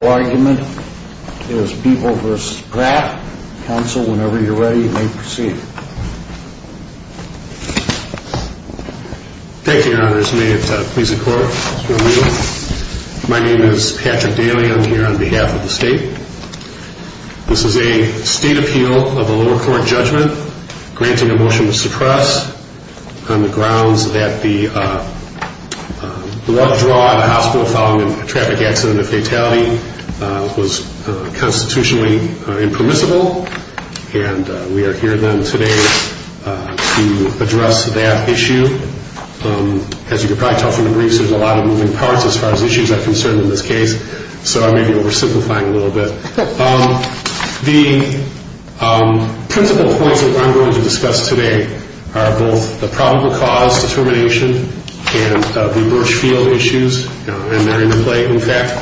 argument is people v. Pratt. Counsel, whenever you're ready, may proceed. Thank you, your honor. May it please the court. My name is Patrick Daley. I'm here on behalf of the state. This is a state appeal of a lower court judgment granting a motion to suppress on the grounds that the withdrawal of a hospital following a traffic accident and fatality was constitutionally impermissible. And we are here then today to address that issue. As you can probably tell from the briefs, there's a lot of moving parts as far as issues are concerned in this case. So I may be oversimplifying a little bit. The principal points that I'm going to discuss today are both the probable cause determination and the Birchfield issues and their interplay, in fact.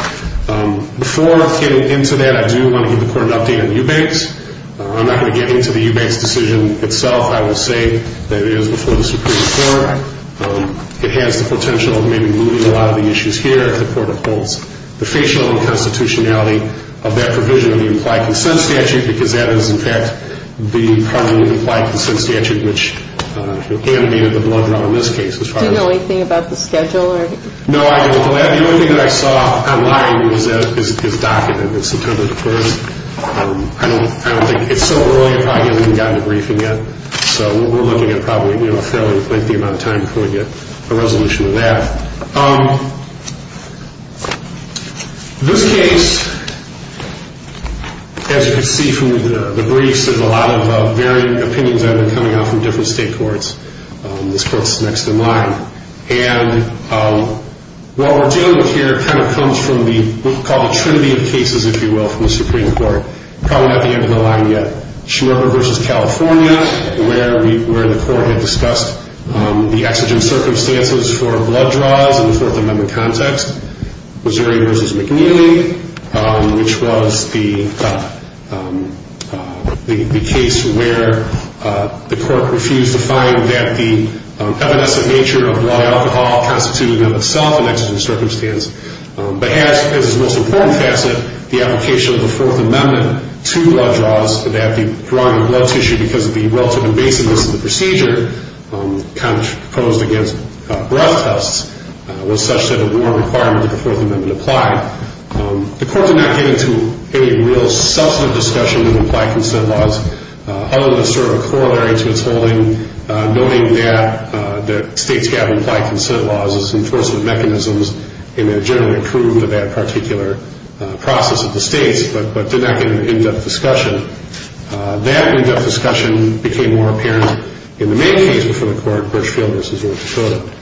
Before getting into that, I do want to give the court an update on Eubanks. I'm not going to get into the Eubanks decision itself. I will say that it is before the Supreme Court. It has the potential of maybe moving a lot of the issues here if the court upholds the facial and constitutionality of that provision in the implied consent statute because that is, in fact, the primary implied consent statute which animated the blood draw in this case. Do you know anything about the schedule? No, I don't. The only thing that I saw online is his document. It's September the 1st. I don't think, it's so early I probably haven't even gotten a briefing yet. So we're looking at probably a fairly lengthy amount of time before we get a resolution to that. This case, as you can see from the briefs, there's a lot of varying opinions that have been coming out from different state courts. This court's next in line. And what we're dealing with here kind of comes from what we call the trinity of cases, if you will, from the Supreme Court. Probably not the end of the line yet. Schumer v. California, where the court had discussed the exigent circumstances for blood draws in the Fourth Amendment context. Missouri v. McNeely, which was the case where the court refused to find that the evanescent nature of blood alcohol constituted in itself an exigent circumstance. But as its most important facet, the application of the Fourth Amendment to blood draws, that the drawing of blood tissue because of the relative invasiveness of the procedure, proposed against breath tests, was such that a war requirement of the Fourth Amendment applied. The court did not get into any real substantive discussion of implied consent laws, other than sort of a corollary to its holding, noting that states have implied consent laws as enforcement mechanisms and they're generally accrued to that particular process of the states, but did not get into any in-depth discussion. That in-depth discussion became more apparent in the main case before the court, Birchfield v. North Dakota.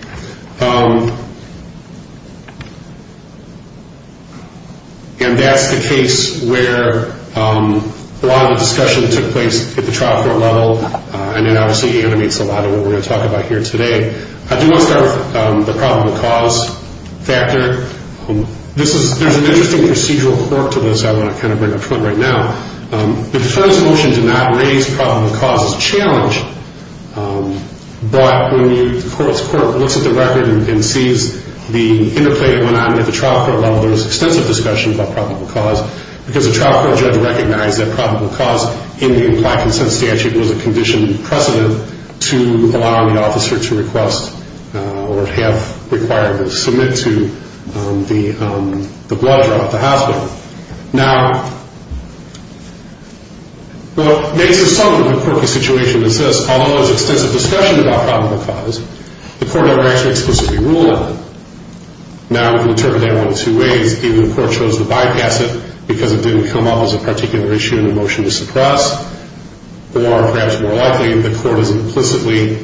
And that's the case where a lot of the discussion took place at the trial court level, and it obviously animates a lot of what we're going to talk about here today. I do want to start with the problem of cause factor. There's an interesting procedural report to this I want to kind of bring up front right now. The defense motion did not raise problem of cause as a challenge, but when the court looks at the record and sees the interplay that went on at the trial court level, there was extensive discussion about problem of cause, because the trial court judge recognized that problem of cause in the implied consent statute was a condition precedent to allow the officer to request or have required or submit to the blood draw at the hospital. Now, what makes this somewhat of a quirky situation is this. Although there's extensive discussion about problem of cause, the court never explicitly ruled on it. Now, we can turn it around in two ways. Either the court chose to bypass it because it didn't come up as a particular issue in the motion to suppress, or perhaps more likely, the court has implicitly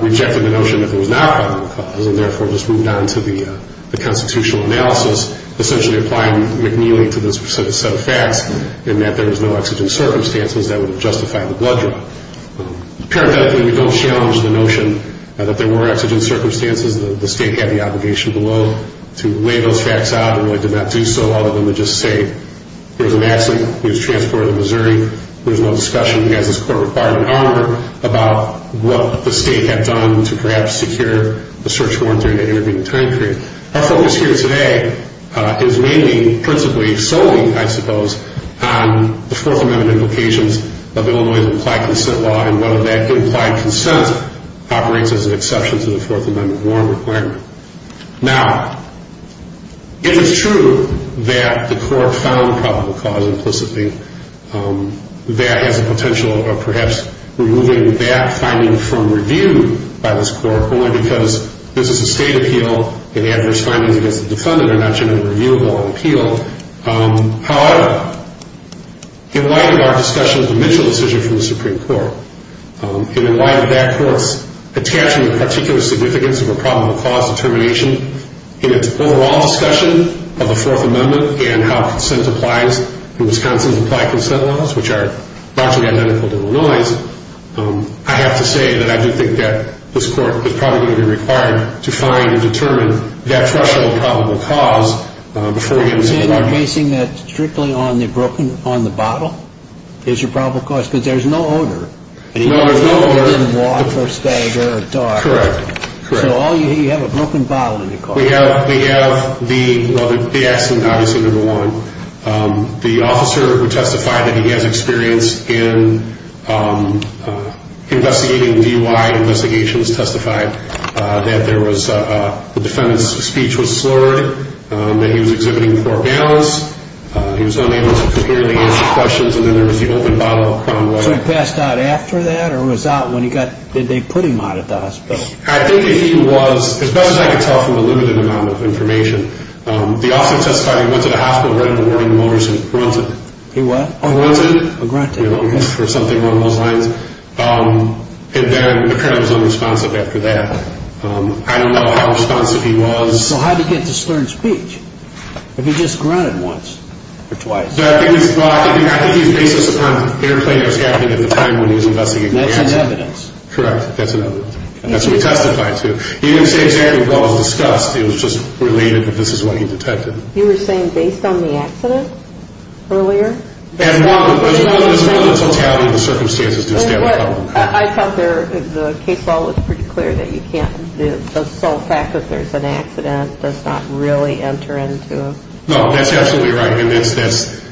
rejected the notion that there was not problem of cause and therefore just moved on to the McNeely to this set of facts in that there was no exigent circumstances that would have justified the blood draw. Paradoxically, we don't challenge the notion that there were exigent circumstances. The state had the obligation below to weigh those facts out and really did not do so, other than to just say, here's a man who was transported to Missouri. There's no discussion. He has his court requirement armored about what the state had done to perhaps secure the search warrant during that intervening time period. Our focus here today is mainly, principally, solely, I suppose, on the Fourth Amendment implications of Illinois' implied consent law and whether that implied consent operates as an exception to the Fourth Amendment warrant requirement. Now, if it's true that the court found problem of cause implicitly, that has a potential of perhaps removing that finding from review by this court, only because this is a state appeal and adverse findings against the defendant are not generally reviewable on appeal. However, in light of our discussion of the Mitchell decision from the Supreme Court, and in light of that, of course, attaching the particular significance of a problem of cause determination in its overall discussion of the Fourth Amendment and how consent applies and Wisconsin's implied consent laws, which are largely identical to Illinois', I have to say that I do think that this court is probably going to be required to find and determine that threshold of probable cause before we get into the bottom line. And you're basing that strictly on the broken, on the bottle is your probable cause? Because there's no odor. No, there's no odor. And you can't put it in water or stagger or dark. Correct. Correct. So all you have, you have a broken bottle in your car. We have, we have the, well, the accident, obviously, number one. The officer who testified that he has experience in investigating DUI investigations testified that there was a, the defendant's speech was slurred, that he was exhibiting poor balance, he was unable to clearly answer questions, and then there was the open bottle. So he passed out after that, or was out when he got, did they put him out of the hospital? I think that he was, as best as I could tell from a limited amount of information, the officer testified he went to the hospital right in the morning and was granted. He what? Granted. Or granted. Or something along those lines. And then the criminal was unresponsive after that. I don't know how unresponsive he was. So how'd he get the slurred speech? If he just grunted once or twice? I think he was, I think he was baseless upon airplane or scaffolding at the time when he was investigating. That's an evidence. Correct. That's an evidence. And that's what he testified to. He didn't say exactly what was discussed. It was just related that this is what he detected. You were saying based on the accident earlier? As well as the totality of the circumstances. I thought the case law was pretty clear that you can't, the sole fact that there's an accident does not really enter into. No, that's absolutely right. And that's,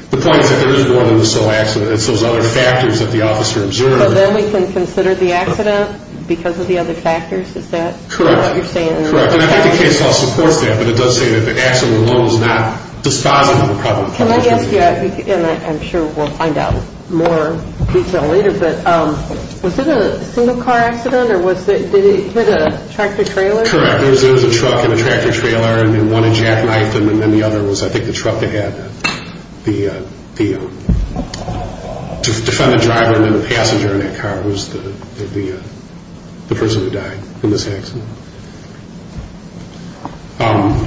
the point is that there is more than the sole accident. It's those other factors that the officer observed. So then we can consider the accident because of the other factors? Is that what you're saying? Correct. Correct. And I think the case law supports that, but it does say that the accident alone is not dispositive. Can I ask you, and I'm sure we'll find out more detail later, but was it a single car accident? Or was it, did it hit a tractor trailer? Correct. There was a truck and a tractor trailer, and then one had jackknifed him, and then the other was, I think, the truck that had the, to defend the driver, and then the passenger in that car was the person who died in this accident.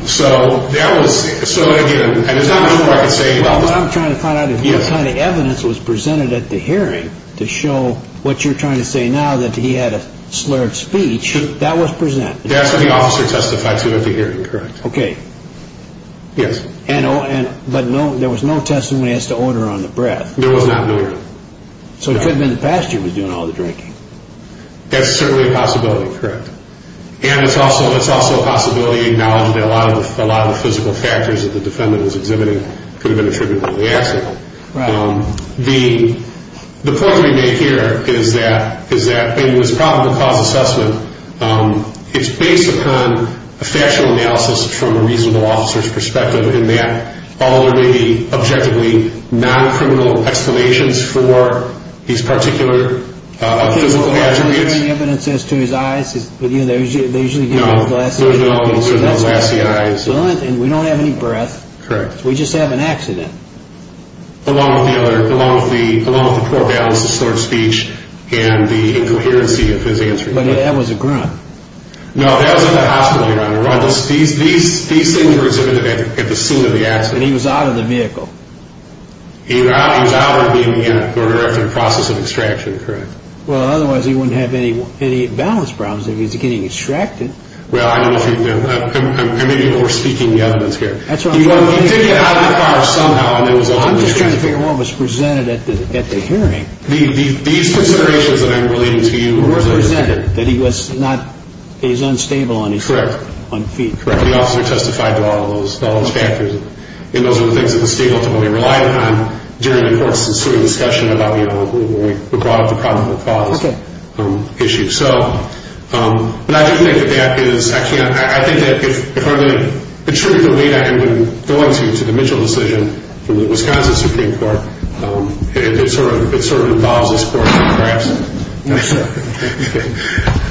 So that was, so again, and there's not much more I can say about this. What I'm trying to find out is what kind of evidence was presented at the hearing to show what you're trying to say now, that he had a slurred speech. That was presented. That's what the officer testified to at the hearing, correct. Okay. Yes. And, but there was no testimony as to odor on the breath. There was not odor. So it could have been the passenger was doing all the drinking. That's certainly a possibility, correct. And it's also a possibility acknowledged that a lot of the physical factors that the defendant was exhibiting could have been attributed to the accident. Right. The point we make here is that in this probable cause assessment, it's based upon a factual analysis from a reasonable officer's perspective in that all there may be objectively non-criminal explanations for these particular physical attributes. Was there any evidence as to his eyes? They usually give him glassy eyes. No, there's no glassy eyes. And we don't have any breath. Correct. We just have an accident. Along with the poor balance of slurred speech and the incoherency of his answer. But that was a grunt. No, that was in the hospital, Your Honor. These things were exhibited at the scene of the accident. And he was out of the vehicle. He was out or being in or after the process of extraction, correct. Well, otherwise he wouldn't have any balance problems if he was getting extracted. Well, I know what you mean. I may be over-speaking the evidence here. He did get out of the car somehow. I'm just trying to figure out what was presented at the hearing. These considerations that I'm relating to you were presented. That he was unstable on his feet. Correct. The officer testified to all those factors. And those were the things that the state ultimately relied on during the court's discussion about the probable cause issue. But I do think that that is, I think that if I'm going to attribute the weight I am going to to the Mitchell decision from the Wisconsin Supreme Court, it sort of involves this court perhaps. Yes, sir.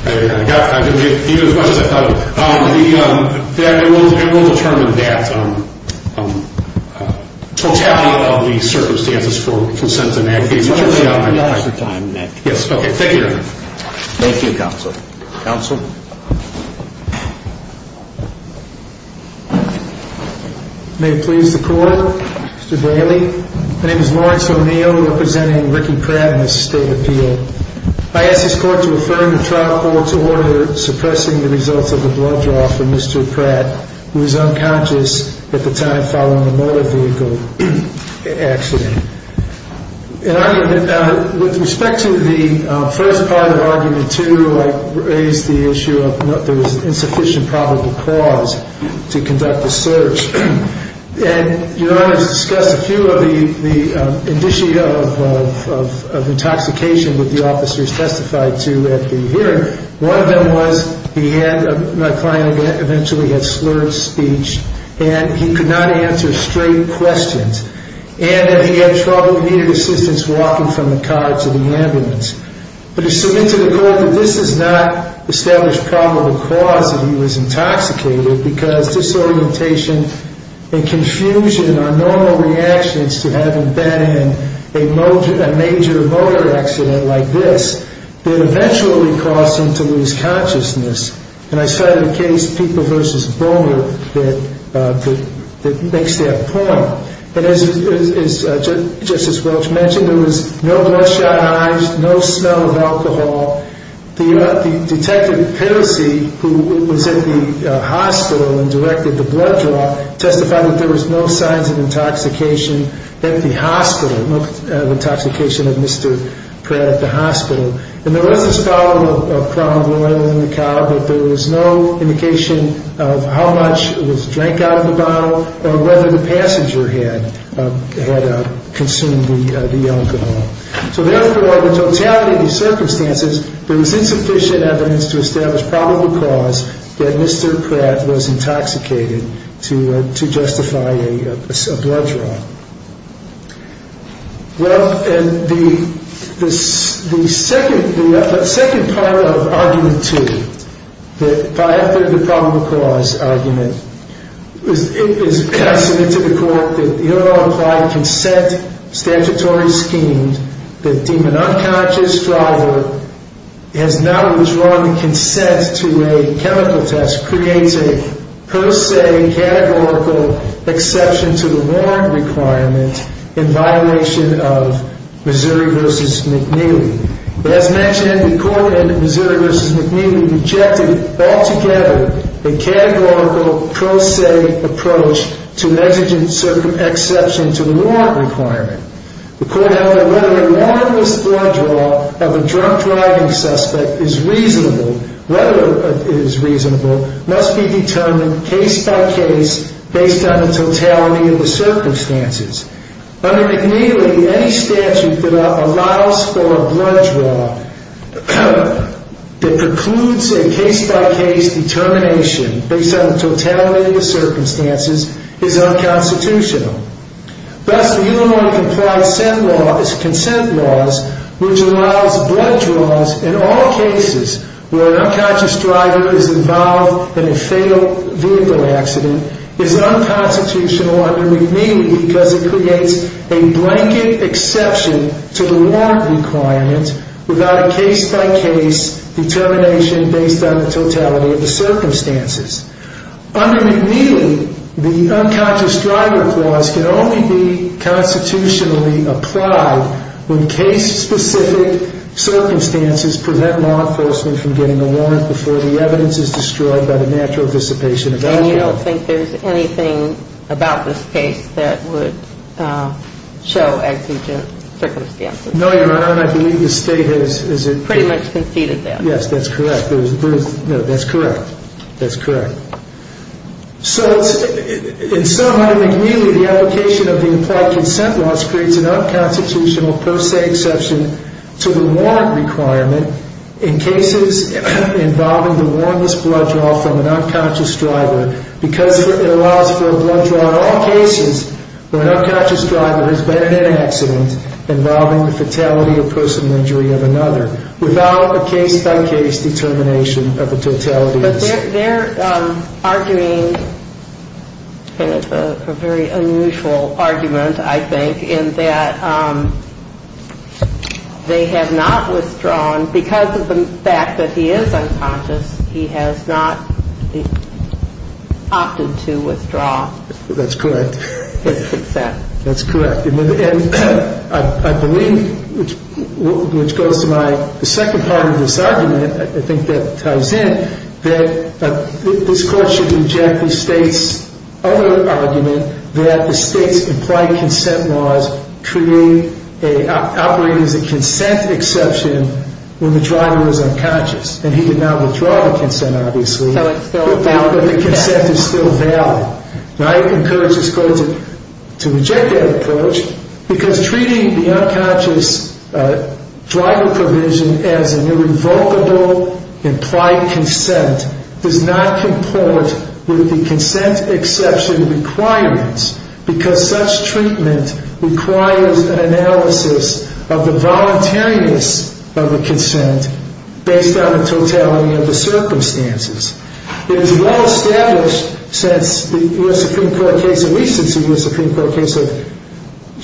I didn't mean it as much as I thought it would. It will determine that totality of the circumstances for consent and advocacy. You have extra time, Nick. Yes, okay. Thank you. Thank you, counsel. Counsel. May it please the court. Mr. Braley. My name is Lawrence O'Neill, representing Ricky Pratt in this state appeal. I ask this court to affirm the trial call to order suppressing the results of the blood draw for Mr. Pratt, who was unconscious at the time following the motor vehicle accident. In argument, with respect to the first part of argument two, I raised the issue of there was insufficient probable cause to conduct the search. And Your Honor has discussed a few of the indicia of intoxication that the officers testified to at the hearing. One of them was he had, my client eventually had slurred speech, and he could not answer straight questions. And that he had trouble, he needed assistance walking from the car to the ambulance. But to submit to the court that this is not established probable cause that he was intoxicated, because disorientation and confusion are normal reactions to having been in a major motor accident like this, that eventually caused him to lose consciousness. And I cited a case, Peeper v. Bulger, that makes that point. But as Justice Welch mentioned, there was no bloodshot eyes, no smell of alcohol. The detective, Pettosee, who was at the hospital and directed the blood draw, testified that there was no signs of intoxication at the hospital, no intoxication of Mr. Pratt at the hospital. And there was this bottle of Crown Royal in the car, but there was no indication of how much was drank out of the bottle or whether the passenger had consumed the alcohol. So therefore, the totality of the circumstances, there was insufficient evidence to establish probable cause that Mr. Pratt was intoxicated to justify a blood draw. Well, the second part of Argument 2, the probable cause argument, is submitted to the court that the overall applied consent statutory scheme that deem an unconscious driver as not withdrawing the consent to a chemical test creates a pro se categorical exception to the warrant requirement in violation of Missouri v. McNeely. As mentioned, the court in Missouri v. McNeely rejected altogether a categorical pro se approach to an exigent exception to the warrant requirement. The court held that whether a warrantless blood draw of a drunk driving suspect is reasonable, whether it is reasonable, must be determined case-by-case based on the totality of the circumstances. Under McNeely, any statute that allows for a blood draw that precludes a case-by-case determination based on the totality of the circumstances is unconstitutional. Thus, the unilaterally complied consent laws, which allows blood draws in all cases where an unconscious driver is involved in a fatal vehicle accident, is unconstitutional under McNeely because it creates a blanket exception to the warrant requirement without a case-by-case determination based on the totality of the circumstances. Under McNeely, the unconscious driver clause can only be constitutionally applied when case-specific circumstances prevent law enforcement from getting a warrant before the evidence is destroyed by the natural dissipation of evidence. And you don't think there's anything about this case that would show exigent circumstances? No, Your Honor, and I believe the State has pretty much conceded that. Yes, that's correct. No, that's correct. That's correct. So, in some way, McNeely, the application of the implied consent laws creates an unconstitutional per se exception to the warrant requirement in cases involving the warrantless blood draw from an unconscious driver because it allows for a blood draw in all cases where an unconscious driver has been in an accident involving the fatality or personal injury of another without a case-by-case determination of the totality of the circumstances. But they're arguing a very unusual argument, I think, in that they have not withdrawn because of the fact that he is unconscious, he has not opted to withdraw. That's correct. His consent. That's correct. And I believe, which goes to my second part of this argument, I think that ties in, that this Court should reject the State's other argument that the State's implied consent laws operate as a consent exception when the driver is unconscious. And he did not withdraw the consent, obviously, but the consent is still valid. And I encourage this Court to reject that approach because treating the unconscious driver provision as an irrevocable implied consent does not comport with the consent exception requirements because such treatment requires an analysis of the voluntariness of the consent based on the totality of the circumstances. It is well established since the U.S. Supreme Court case, at least since the U.S. Supreme Court case of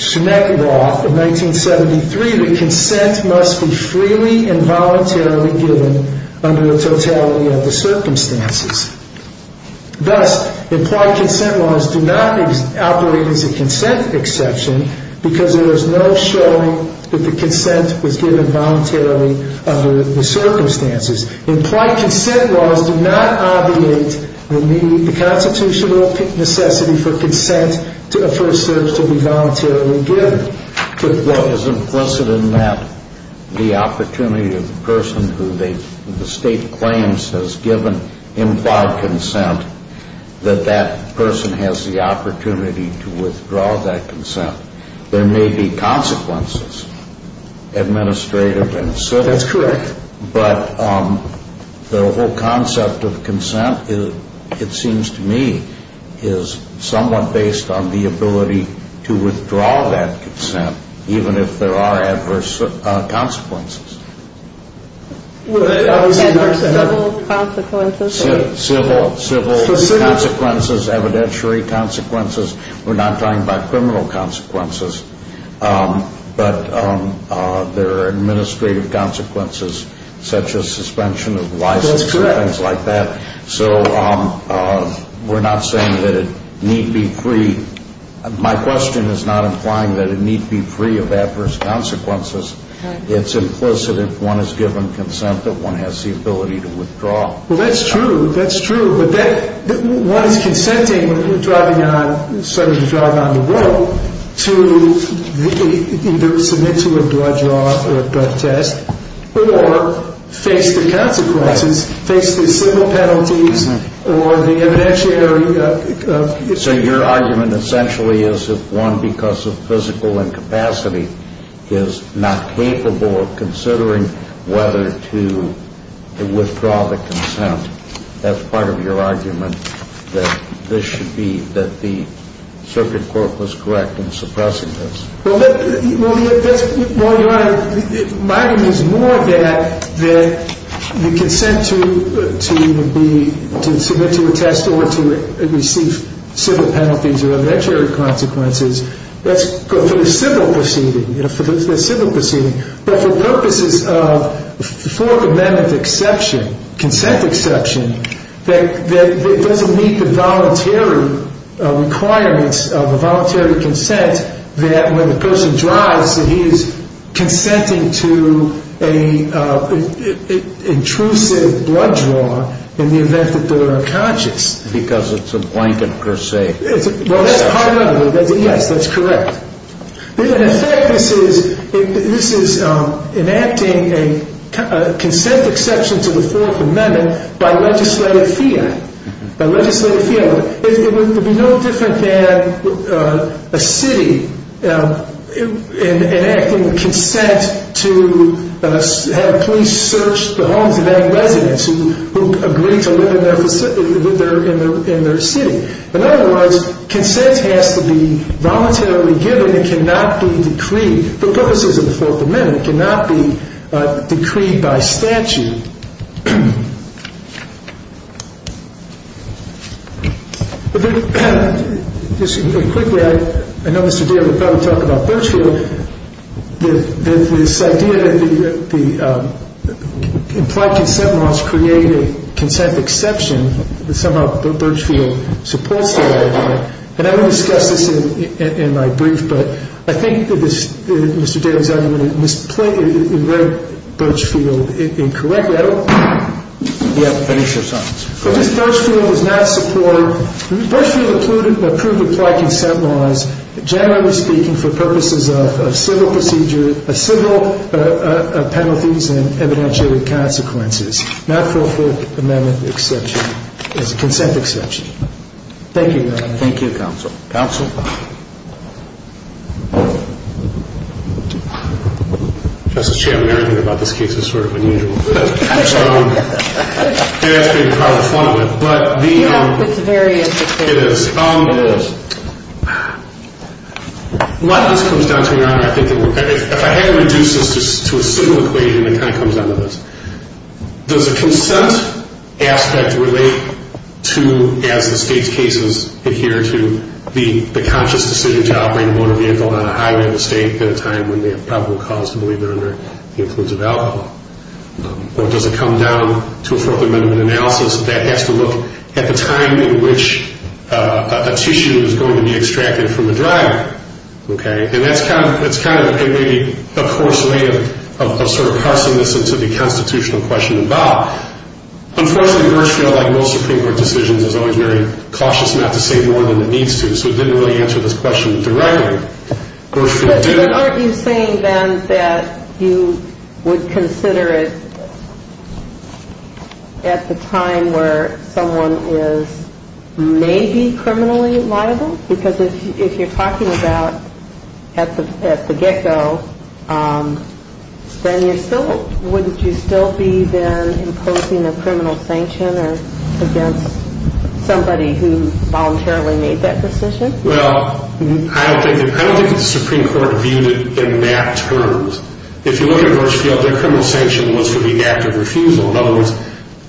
Schneck law of 1973, that consent must be freely and voluntarily given under the totality of the circumstances. Thus, implied consent laws do not operate as a consent exception because there is no showing that the consent was given voluntarily under the circumstances. Implied consent laws do not obviate the constitutional necessity for consent to be voluntarily given. Well, as implicit in that, the opportunity of the person who the State claims has given implied consent, that that person has the opportunity to withdraw that consent. There may be consequences, administrative and civil. That's correct. But the whole concept of consent, it seems to me, is somewhat based on the ability to withdraw that consent even if there are adverse consequences. Adverse civil consequences? Civil consequences, evidentiary consequences. We're not talking about criminal consequences. But there are administrative consequences such as suspension of license and things like that. That's correct. So we're not saying that it need be free. My question is not implying that it need be free of adverse consequences. It's implicit if one is given consent that one has the ability to withdraw. Well, that's true. That's true. One is consenting, driving on the road to either submit to a blood draw or a blood test or face the consequences, face the civil penalties or the evidentiary. So your argument essentially is if one, because of physical incapacity, is not capable of considering whether to withdraw the consent, that's part of your argument that this should be, that the circuit court was correct in suppressing this. Well, Your Honor, my argument is more that the consent to submit to a test or to receive civil penalties or evidentiary consequences, that's for the civil proceeding, for the civil proceeding, but for purposes of Fourth Amendment exception, consent exception, that it doesn't meet the voluntary requirements of a voluntary consent that when the person drives that he is consenting to an intrusive blood draw in the event that they're unconscious. Because it's a blanket per se. Well, that's a hard argument. Yes, that's correct. In effect, this is enacting a consent exception to the Fourth Amendment by legislative fiat, by legislative fiat. It would be no different than a city enacting consent to have police search the homes of any residents who agree to live in their city. In other words, consent has to be voluntarily given. It cannot be decreed. For purposes of the Fourth Amendment, it cannot be decreed by statute. Just quickly, I know Mr. Deal would probably talk about Birchfield. This idea that the implied consent must create a consent exception, that somehow Birchfield supports the idea. And I will discuss this in my brief. But I think Mr. Dale's argument misplaced, it wrote Birchfield incorrectly. Yes, please, Your Honor. Because Birchfield does not support, Birchfield approved implied consent laws, generally speaking, for purposes of civil procedure, civil penalties and evidentiary consequences, not for a Fourth Amendment exception. It's a consent exception. Thank you, Your Honor. Thank you, Counsel. Counsel? Justice Chambliss, everything about this case is sort of unusual. It has been probably fun with. Yeah, it's very intricate. It is. It is. A lot of this comes down to, Your Honor, I think if I had to reduce this to a single equation, it kind of comes down to this. Does the consent aspect relate to, as the state's cases adhere to, the conscious decision to operate a motor vehicle on a highway in the state at a time when they have probable cause to believe they're under the influence of alcohol? Or does it come down to a Fourth Amendment analysis that has to look at the time in which a tissue is going to be extracted from the driver? Okay? And that's kind of maybe a coarse way of sort of parsing this into the constitutional question involved. Unfortunately, Birchfield, like most Supreme Court decisions, is always very cautious not to say more than it needs to, so it didn't really answer this question directly. But aren't you saying then that you would consider it at the time where someone is maybe criminally liable? Because if you're talking about at the get-go, then wouldn't you still be then imposing a criminal sanction against somebody who voluntarily made that decision? Well, I don't think the Supreme Court viewed it in that terms. If you look at Birchfield, their criminal sanction was for the act of refusal. In other words,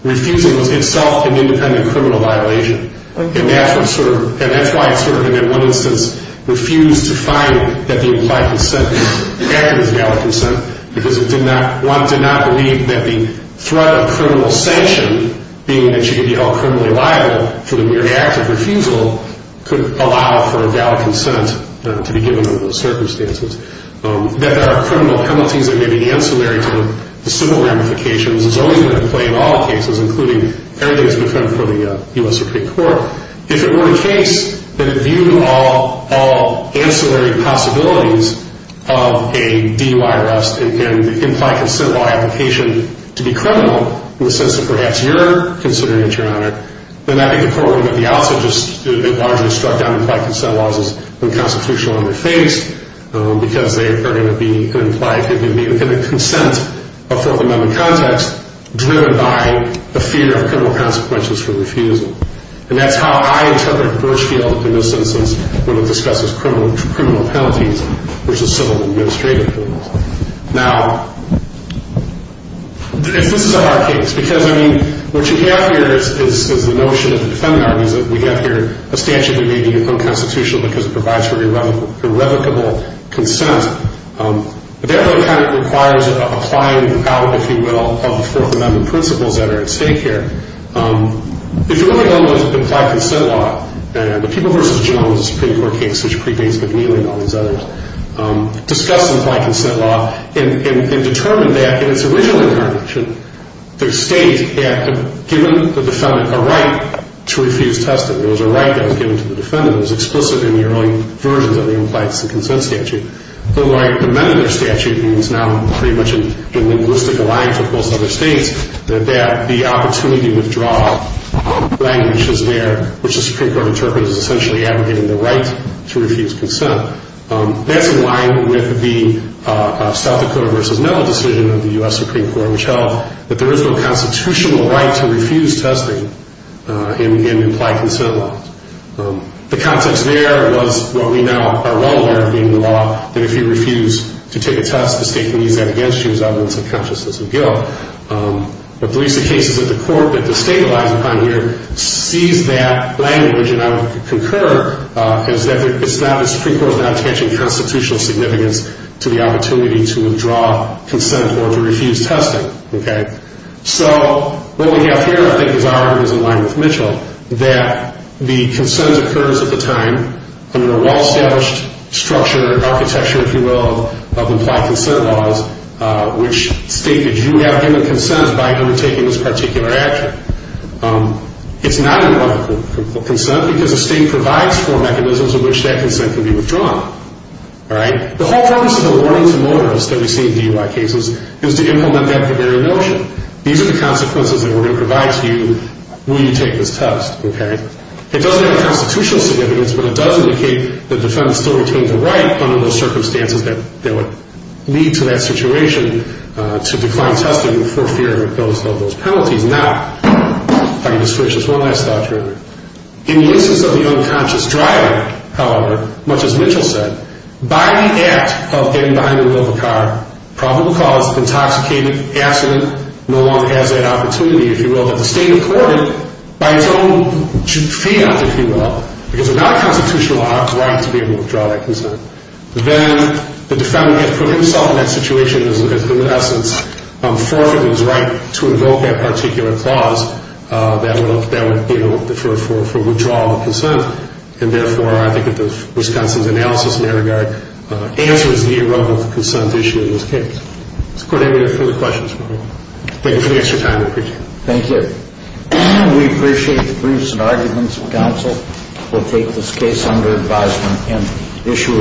refusing was itself an independent criminal violation. And that's why it sort of, in one instance, refused to find that the implied consent was valid consent, because one did not believe that the threat of criminal sanction, being that you could be held criminally liable for the mere act of refusal, could allow for a valid consent to be given under those circumstances. That there are criminal penalties that may be ancillary to the civil ramifications is only going to play in all cases, including everything that's been confirmed for the U.S. Supreme Court. If it were the case that it viewed all ancillary possibilities of a DUI arrest and implied consent law application to be criminal, in the sense that perhaps you're considering it, Your Honor, then I think the court would have at the outset just largely struck down implied consent laws as unconstitutional in their face, because they are going to be an implied consent of Fourth Amendment context driven by the fear of criminal consequences for refusal. And that's how I interpret Birchfield, in this instance, when it discusses criminal penalties, which is civil administrative penalties. Now, if this is a hard case, because, I mean, what you have here is the notion of the defendant argues that we have here a statute that may be unconstitutional because it provides for irrevocable consent. But that really kind of requires applying out, if you will, of the Fourth Amendment principles that are at stake here. If you look at all those implied consent law, the People v. Jones Supreme Court case, which predates McNeely and all these others, discuss implied consent law and determined that in its original interpretation, the state had given the defendant a right to refuse testing. There was a right that was given to the defendant. It was explicit in the early versions of the implied consent statute. But when I amended the statute, and it's now pretty much in linguistic alliance with most other states, that the opportunity to withdraw language is there, which the Supreme Court interprets as essentially advocating the right to refuse consent. That's in line with the South Dakota v. Miller decision of the U.S. Supreme Court, which held that there is no constitutional right to refuse testing in implied consent law. The context there was what we now are well aware of being the law, that if you refuse to take a test, the state can use that against you as evidence of consciousness of guilt. But at least the cases that the court, that the state relies upon here, sees that language, and I would concur, is that the Supreme Court is not attaching constitutional significance to the opportunity to withdraw consent or to refuse testing. So what we have here, I think, is in line with Mitchell, that the consent occurs at the time under a well-established structure, architecture, if you will, of implied consent laws, which state that you have given consent by undertaking this particular action. It's not implied consent because the state provides for mechanisms in which that consent can be withdrawn. All right? The whole purpose of the warning to motorists that we see in DUI cases is to implement that very notion. These are the consequences that we're going to provide to you when you take this test. Okay? It doesn't have constitutional significance, but it does indicate that defendants still retain the right under those circumstances that would lead to that situation to decline testing for fear of those penalties. Now, if I can just finish this, one last thought here. In the instance of the unconscious driver, however, much as Mitchell said, by the act of getting behind the wheel of a car, probable cause, intoxicated, accident, no one has that opportunity, if you will, that the state accorded by its own fiat, if you will, because there's not a constitutional right to be able to withdraw that consent. Then the defendant has put himself in that situation as, in essence, forfeit his right to invoke that particular clause that would be for withdrawal of consent. And therefore, I think at the Wisconsin's analysis matter, the answer is the irrevocable consent issue in this case. Does the Court have any further questions for me? Thank you for the extra time. I appreciate it. Thank you. We appreciate the briefs and arguments of counsel. We'll take this case under advisement and issue it.